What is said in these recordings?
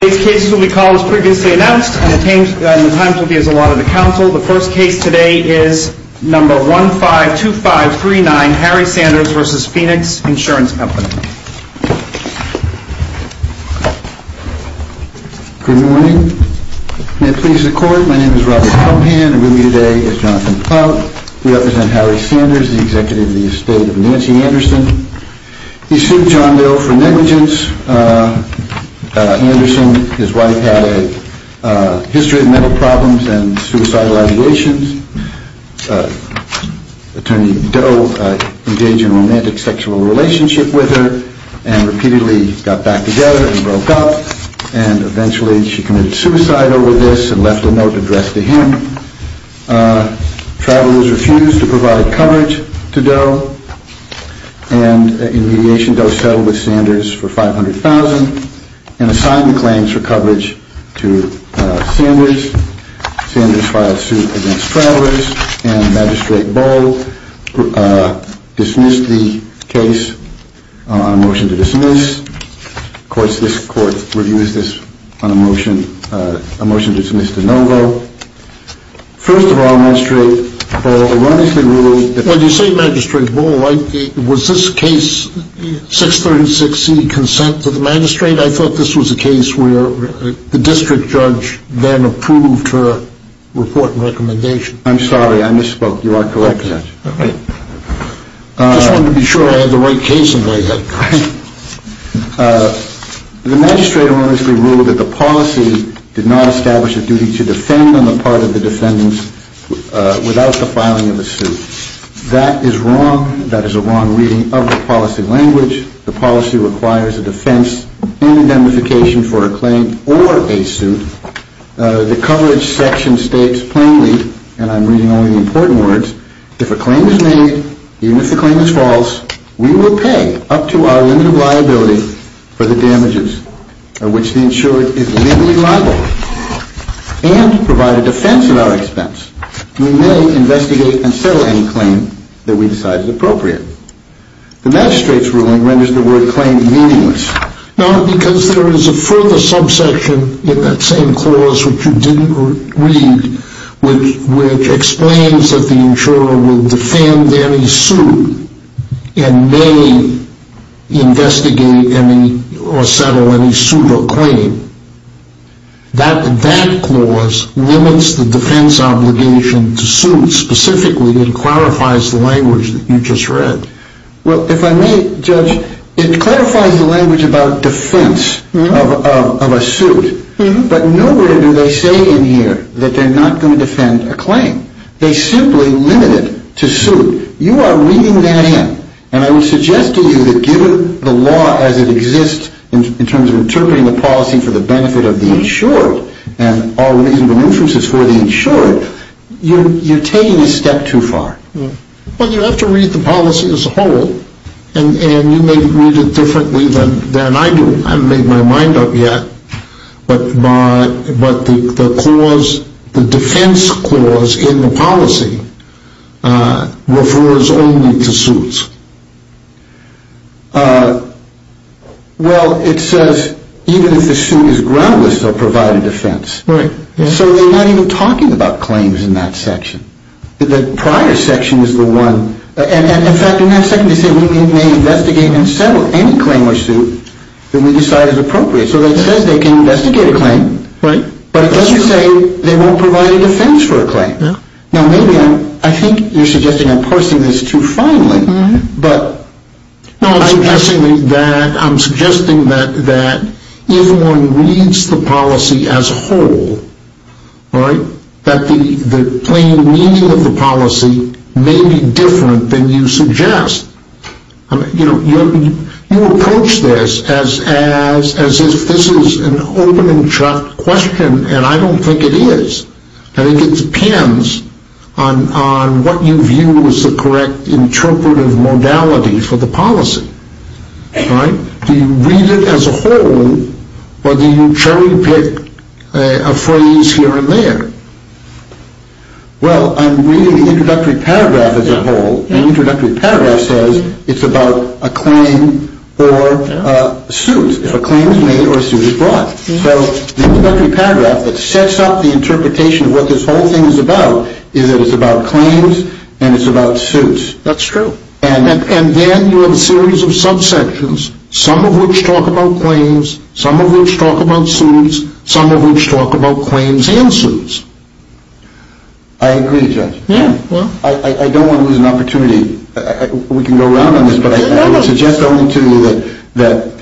Good morning. May it please the Court, my name is Robert Comhand and with me today is Jonathan Ploutt. We represent Harry Sanders, the Executive of the Estate of Nancy Anderson. He sued John Doe for negligence. Anderson, his wife, had a history of mental problems and suicidal ideations. Attorney Doe engaged in a romantic sexual relationship with her and repeatedly got back together and broke up and eventually she committed suicide over this and left a note addressed to him. Travelers refused to provide coverage to Doe and in mediation Doe settled with Sanders for $500,000 and assigned the claims for coverage to Sanders. Sanders filed suit against Travelers and Magistrate Bull dismissed the case on a motion to dismiss. First of all, Magistrate Bull erroneously ruled that... When you say Magistrate Bull, was this case 636C, Consent to the Magistrate? I thought this was a case where the District Judge then approved her report and recommendation. I'm sorry, I misspoke. You are correct. I just wanted to be sure I had the right case in my head. The Magistrate erroneously ruled that the policy did not establish a duty to defend on the part of the defendants without the filing of a suit. That is wrong. That is a wrong reading of the policy language. The policy requires a defense and identification for a claim or a suit. The coverage section states plainly, and I'm reading only the important words, if a claim is made, even if the claim is false, we will pay up to our limit of liability for the damages, of which the insurer is legally liable, and provide a defense at our expense. We may investigate and settle any claim that we decide is appropriate. The Magistrate's ruling renders the word claim meaningless. No, because there is a further subsection in that same clause, which you didn't read, which explains that the insurer will defend any suit and may investigate or settle any suit or claim. That clause limits the defense obligation to suit specifically and clarifies the language that you just read. Well, if I may, Judge, it clarifies the language about defense of a suit, but nowhere do they say in here that they're not going to defend a claim. They simply limit it to suit. You are reading that in, and I would suggest to you that given the law as it exists in terms of interpreting the policy for the benefit of the insured and all reasonable interests for the insured, you're taking a step too far. Well, you have to read the policy as a whole, and you may read it differently than I do. I haven't made my mind up yet, but the defense clause in the policy refers only to suits. Well, it says even if the suit is groundless, they'll provide a defense. Right. So they're not even talking about claims in that section. The prior section is the one, and in fact, in that section, they say we may investigate and settle any claim or suit that we decide is appropriate. So it says they can investigate a claim, but it doesn't say they won't provide a defense for a claim. Now, maybe I'm, I think you're suggesting I'm parsing this too finely, but I'm suggesting that if one reads the policy as a whole, that the plain meaning of the policy may be different than you suggest. You approach this as if this is an open and shut question, and I don't think it is. I think it depends on what you view as the correct interpretive modality for the policy. Do you read it as a whole or do you cherry pick a phrase here and there? Well, I'm reading the introductory paragraph as a whole. The introductory paragraph says it's about a claim or a suit. If a claim is made or a suit is brought. So the introductory paragraph that sets up the interpretation of what this whole thing is about is that it's about claims and it's about suits. That's true. And then you have a series of subsections, some of which talk about claims, some of which talk about suits, some of which talk about claims and suits. I agree, Judge. Yeah. I don't want to lose an opportunity. We can go around on this, but I would suggest only to you that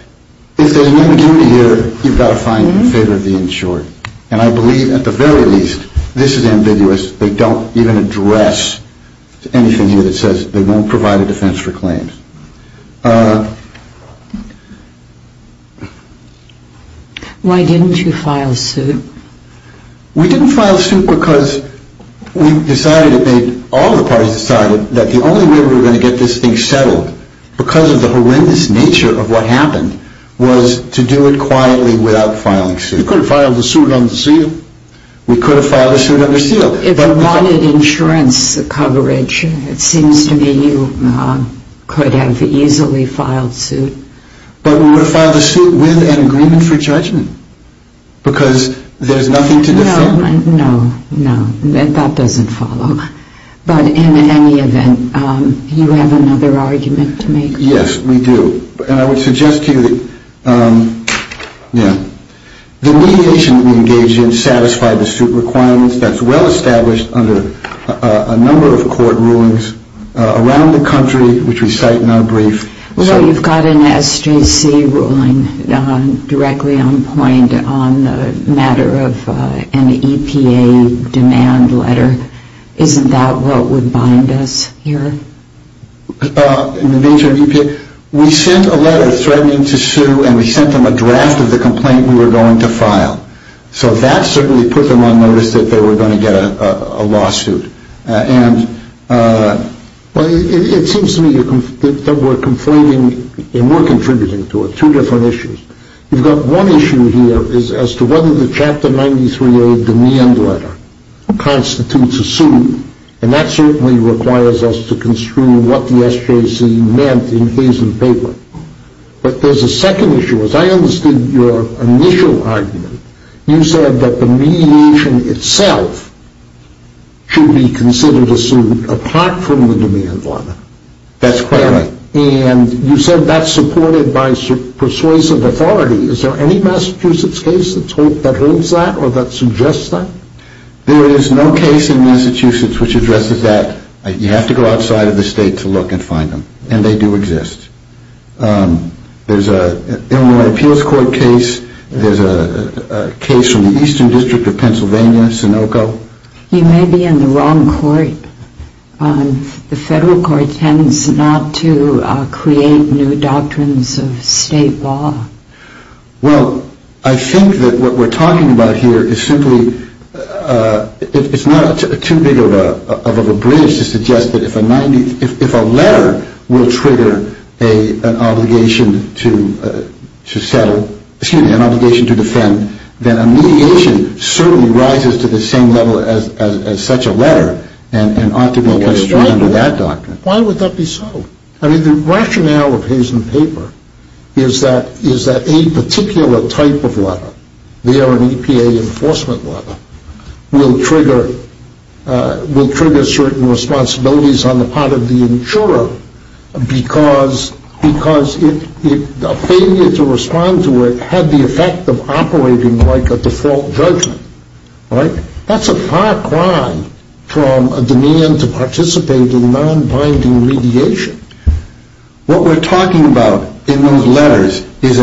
if there's an ambiguity here, you've got to find favor of the insured. And I believe at the very least this is ambiguous. They don't even address anything here that says they won't provide a defense for claims. Why didn't you file a suit? We didn't file a suit because we decided, all the parties decided, that the only way we were going to get this thing settled, because of the horrendous nature of what happened, was to do it quietly without filing a suit. You could have filed a suit unsealed. We could have filed a suit unsealed. If you wanted insurance coverage, it seems to me you could have easily filed suit. But we would have filed a suit with an agreement for judgment because there's nothing to defend. No, no, no. That doesn't follow. But in any event, you have another argument to make. Yes, we do. And I would suggest to you that the mediation that we engaged in satisfied the suit requirements. That's well established under a number of court rulings around the country, which we cite in our brief. Well, you've got an SJC ruling directly on point on the matter of an EPA demand letter. Isn't that what would bind us here? In the nature of EPA? We sent a letter threatening to sue, and we sent them a draft of the complaint we were going to file. So that certainly put them on notice that they were going to get a lawsuit. And it seems to me that we're conflating, and we're contributing to it, two different issues. You've got one issue here as to whether the Chapter 93A demand letter constitutes a suit, and that certainly requires us to construe what the SJC meant in case and paper. But there's a second issue. As I understood your initial argument, you said that the mediation itself should be considered a suit apart from the demand letter. That's correct. And you said that's supported by persuasive authority. Is there any Massachusetts case that holds that or that suggests that? There is no case in Massachusetts which addresses that. You have to go outside of the state to look and find them, and they do exist. There's an Illinois appeals court case. There's a case from the Eastern District of Pennsylvania, Sunoco. You may be in the wrong court. The federal court tends not to create new doctrines of state law. Well, I think that what we're talking about here is simply it's not too big of a bridge to suggest that if a letter will trigger an obligation to settle, excuse me, an obligation to defend, then a mediation certainly rises to the same level as such a letter and ought to be construed under that doctrine. Why would that be so? I mean, the rationale of Hayes and Paper is that a particular type of letter, they are an EPA enforcement letter, will trigger certain responsibilities on the part of the insurer because a failure to respond to it had the effect of operating like a default judgment. That's a far cry from a demand to participate in non-binding mediation. What we're talking about in those letters is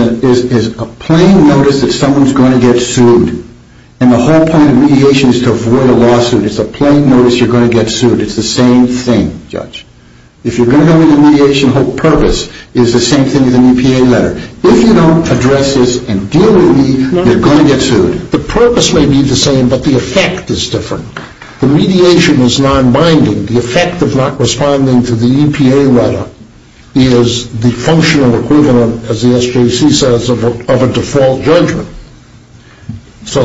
a plain notice that someone's going to get sued, and the whole point of mediation is to avoid a lawsuit. It's a plain notice you're going to get sued. It's the same thing, Judge. If you're going to go into mediation, the whole purpose is the same thing as an EPA letter. If you don't address this and deal with me, you're going to get sued. The purpose may be the same, but the effect is different. The mediation is non-binding. The effect of not responding to the EPA letter is the functional equivalent, as the SJC says, of a default judgment. So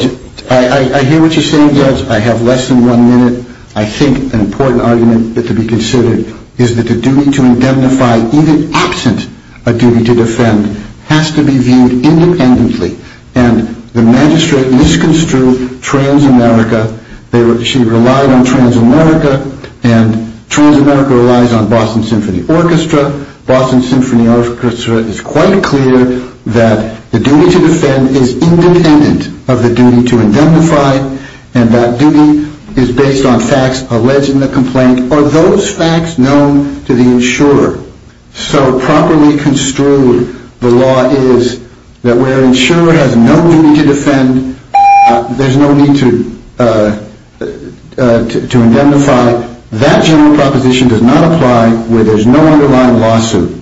I hear what you're saying, Judge. I have less than one minute. I think an important argument to be considered is that the duty to indemnify, even absent a duty to defend, has to be viewed independently, and the magistrate misconstrued Transamerica. She relied on Transamerica, and Transamerica relies on Boston Symphony Orchestra. Boston Symphony Orchestra is quite clear that the duty to defend is independent of the duty to indemnify, and that duty is based on facts alleged in the complaint. Are those facts known to the insurer? So properly construed, the law is that where insurer has no duty to defend, there's no need to indemnify. That general proposition does not apply where there's no underlying lawsuit,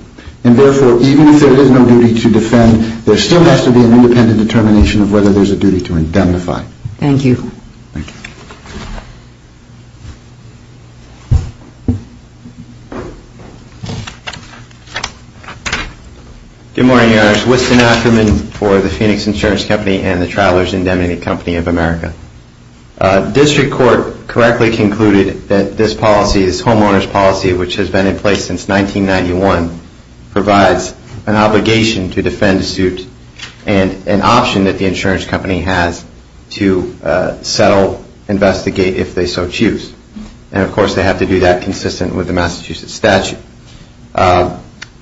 and therefore, even if there is no duty to defend, there still has to be an independent determination of whether there's a duty to indemnify. Thank you. Thank you. Good morning, Your Honors. Winston Ackerman for the Phoenix Insurance Company and the Travelers Indemnity Company of America. District Court correctly concluded that this policy, this homeowner's policy, which has been in place since 1991, provides an obligation to defend a suit and an option that the insurance company has to settle, investigate, if they so choose. And, of course, they have to do that consistent with the Massachusetts statute.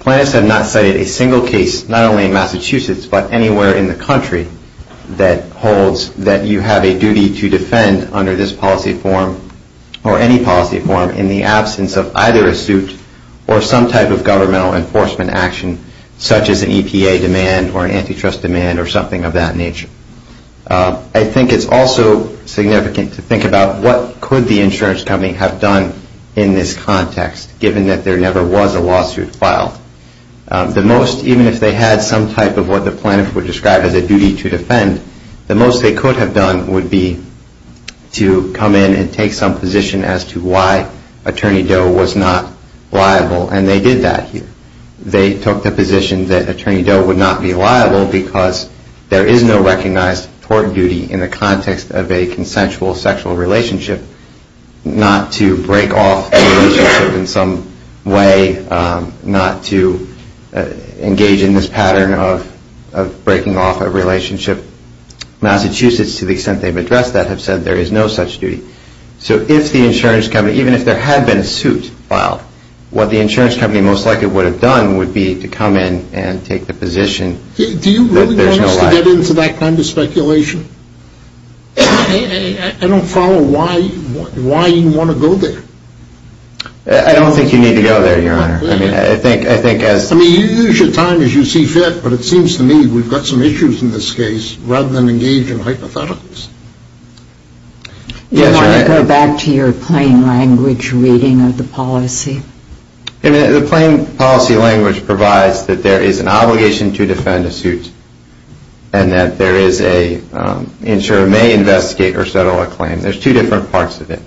Plaintiffs have not cited a single case, not only in Massachusetts, but anywhere in the country that holds that you have a duty to defend under this policy form or any policy form in the absence of either a suit or some type of governmental enforcement action, such as an EPA demand or an antitrust demand or something of that nature. I think it's also significant to think about what could the insurance company have done in this context, given that there never was a lawsuit filed. The most, even if they had some type of what the plaintiffs would describe as a duty to defend, the most they could have done would be to come in and take some position as to why Attorney Doe was not liable, and they did that here. They took the position that Attorney Doe would not be liable because there is no recognized court duty in the context of a consensual sexual relationship not to break off the relationship in some way, not to engage in this pattern of breaking off a relationship. Massachusetts, to the extent they've addressed that, have said there is no such duty. So if the insurance company, even if there had been a suit filed, what the insurance company most likely would have done would be to come in and take the position that there's no liability. Do you really want us to get into that kind of speculation? I don't follow why you want to go there. I don't think you need to go there, Your Honor. I mean, you use your time as you see fit, but it seems to me we've got some issues in this case rather than engage in hypotheticals. Do you want to go back to your plain language reading of the policy? The plain policy language provides that there is an obligation to defend a suit and that there is an insurer may investigate or settle a claim. There's two different parts of it,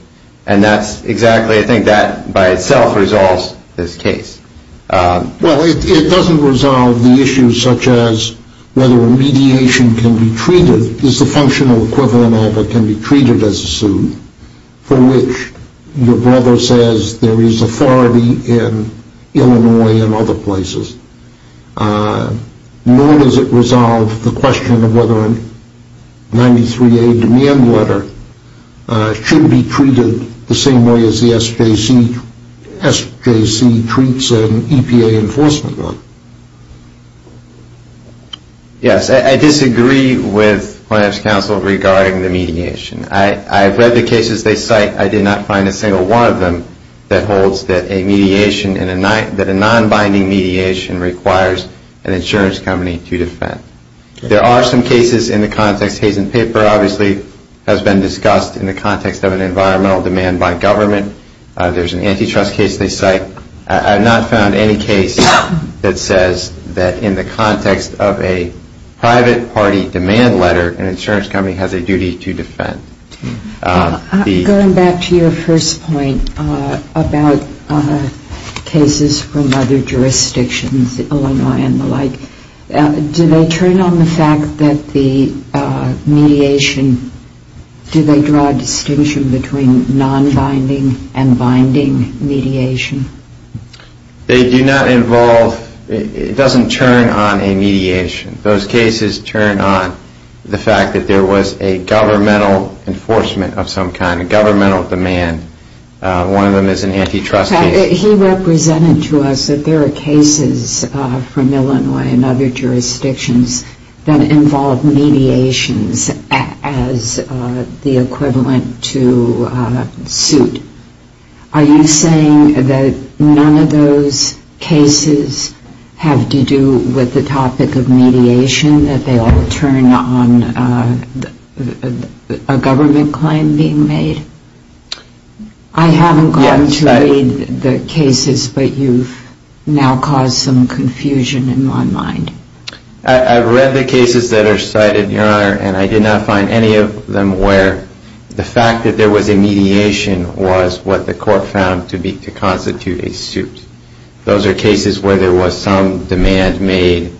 and that's exactly, I think, that by itself resolves this case. Well, it doesn't resolve the issues such as whether a mediation can be treated. There's a functional equivalent of it can be treated as a suit for which your brother says there is authority in Illinois and other places, nor does it resolve the question of whether a 93A demand letter should be treated the same way as the SJC treats an EPA enforcement one. Yes, I disagree with Plaintiff's counsel regarding the mediation. I've read the cases they cite. I did not find a single one of them that holds that a mediation and a non-binding mediation requires an insurance company to defend. There are some cases in the context, Hayes and Pipper, obviously, has been discussed in the context of an environmental demand by government. There's an antitrust case they cite. I have not found any case that says that in the context of a private party demand letter, an insurance company has a duty to defend. Going back to your first point about cases from other jurisdictions, Illinois and the like, do they turn on the fact that the mediation, do they draw a distinction between non-binding and binding mediation? They do not involve, it doesn't turn on a mediation. Those cases turn on the fact that there was a governmental enforcement of some kind, a governmental demand. One of them is an antitrust case. He represented to us that there are cases from Illinois and other jurisdictions that involve mediations as the equivalent to suit. Are you saying that none of those cases have to do with the topic of mediation, that they all turn on a government claim being made? I haven't gone to read the cases, but you've now caused some confusion in my mind. I've read the cases that are cited, Your Honor, and I did not find any of them where the fact that there was a mediation was what the court found to constitute a suit. Those are cases where there was some demand made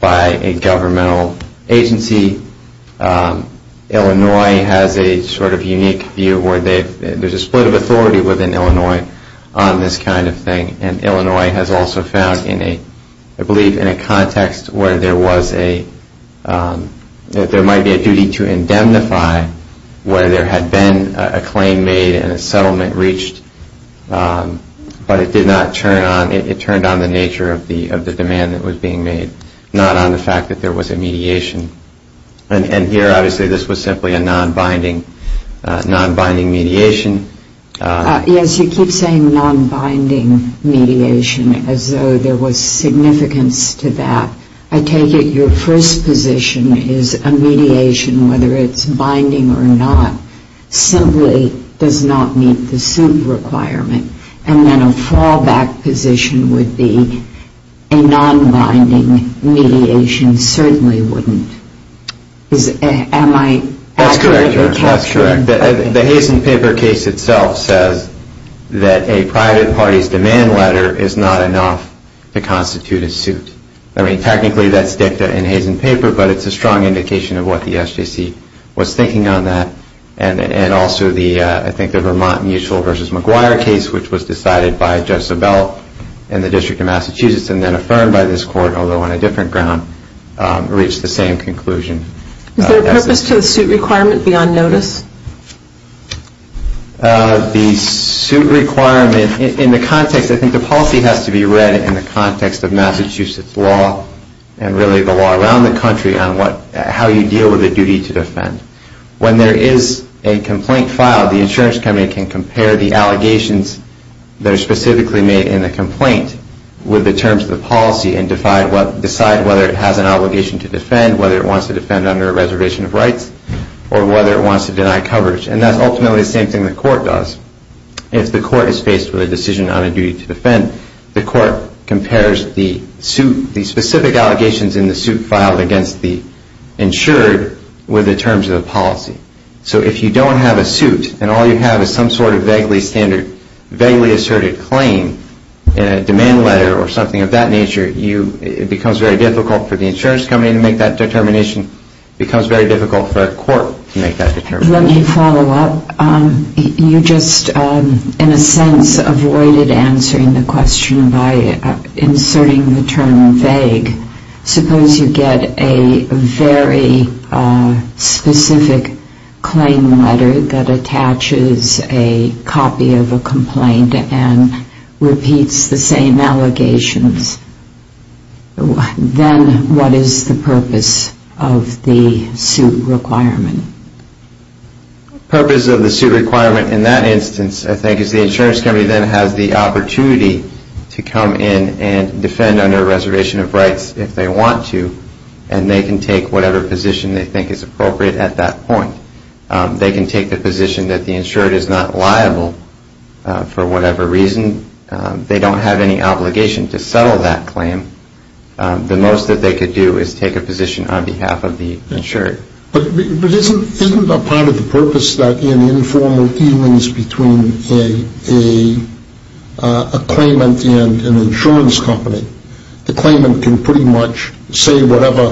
by a governmental agency. Illinois has a sort of unique view where there's a split of authority within Illinois on this kind of thing, and Illinois has also found, I believe, in a context where there might be a duty to indemnify where there had been a claim made and a settlement reached, but it did not turn on, it turned on the nature of the demand that was being made, not on the fact that there was a mediation. And here, obviously, this was simply a non-binding mediation. Yes, you keep saying non-binding mediation as though there was significance to that. I take it your first position is a mediation, whether it's binding or not, simply does not meet the suit requirement, and then a fallback position would be a non-binding mediation certainly wouldn't. Am I accurate? That's correct, Your Honor. That's correct. The Hazen paper case itself says that a private party's demand letter is not enough to constitute a suit. I mean, technically, that's dicta in Hazen paper, but it's a strong indication of what the SJC was thinking on that, and also I think the Vermont Mutual v. McGuire case, which was decided by Judge Sebel in the District of Massachusetts and then affirmed by this Court, although on a different ground, reached the same conclusion. Is there a purpose to the suit requirement beyond notice? The suit requirement in the context, I think the policy has to be read in the context of Massachusetts law and really the law around the country on how you deal with a duty to defend. When there is a complaint filed, the insurance company can compare the allegations that are specifically made in the complaint with the terms of the policy and decide whether it has an obligation to defend, whether it wants to defend under a reservation of rights, or whether it wants to deny coverage. And that's ultimately the same thing the court does. If the court is faced with a decision on a duty to defend, So if you don't have a suit and all you have is some sort of vaguely standard, vaguely asserted claim in a demand letter or something of that nature, it becomes very difficult for the insurance company to make that determination. It becomes very difficult for a court to make that determination. Let me follow up. You just, in a sense, avoided answering the question by inserting the term vague. Suppose you get a very specific claim letter that attaches a copy of a complaint and repeats the same allegations, then what is the purpose of the suit requirement? The purpose of the suit requirement in that instance, I think, is the insurance company then has the opportunity to come in and defend under a reservation of rights if they want to, and they can take whatever position they think is appropriate at that point. They can take the position that the insured is not liable for whatever reason. They don't have any obligation to settle that claim. The most that they could do is take a position on behalf of the insured. But isn't a part of the purpose that in informal dealings between a claimant and an insurance company, the claimant can pretty much say whatever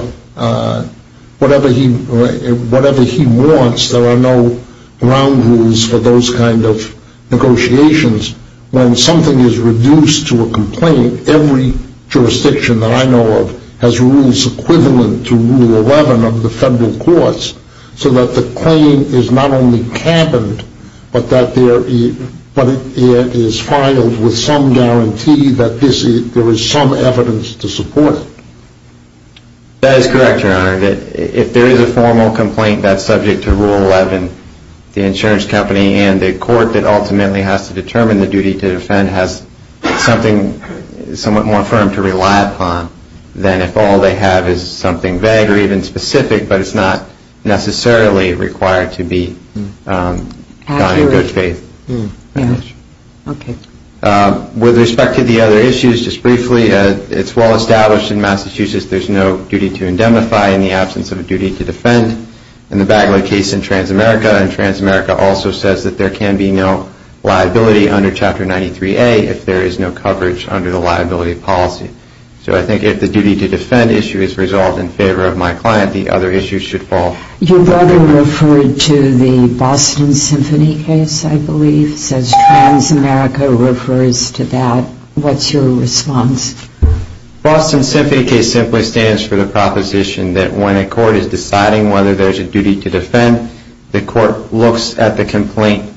he wants. There are no ground rules for those kind of negotiations. I don't think every jurisdiction that I know of has rules equivalent to Rule 11 of the federal courts so that the claim is not only cabined, but it is filed with some guarantee that there is some evidence to support it. That is correct, Your Honor. If there is a formal complaint that's subject to Rule 11, the insurance company and the court that ultimately has to determine the duty to defend has something somewhat more firm to rely upon than if all they have is something vague or even specific, but it's not necessarily required to be done in good faith. With respect to the other issues, just briefly, it's well established in Massachusetts there's no duty to indemnify in the absence of a duty to defend. In the Bagley case in Transamerica, and Transamerica also says that there can be no liability under Chapter 93A if there is no coverage under the liability policy. So I think if the duty to defend issue is resolved in favor of my client, the other issues should fall. Your brother referred to the Boston Symphony case, I believe, says Transamerica refers to that. What's your response? Boston Symphony case simply stands for the proposition that when a court is deciding whether there's a duty to defend, the court looks at the complaint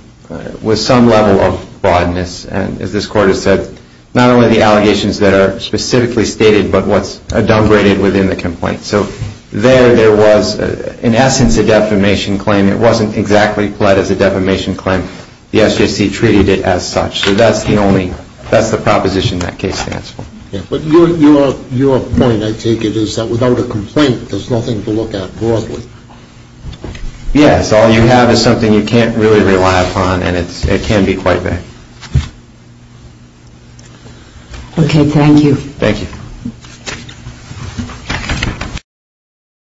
with some level of broadness, and as this Court has said, not only the allegations that are specifically stated, but what's adumbrated within the complaint. So there, there was in essence a defamation claim. It wasn't exactly pled as a defamation claim. The SJC treated it as such. So that's the only, that's the proposition that case stands for. But your point, I take it, is that without a complaint, there's nothing to look at broadly. Yes, all you have is something you can't really rely upon, and it can be quite bad. Okay, thank you. Thank you.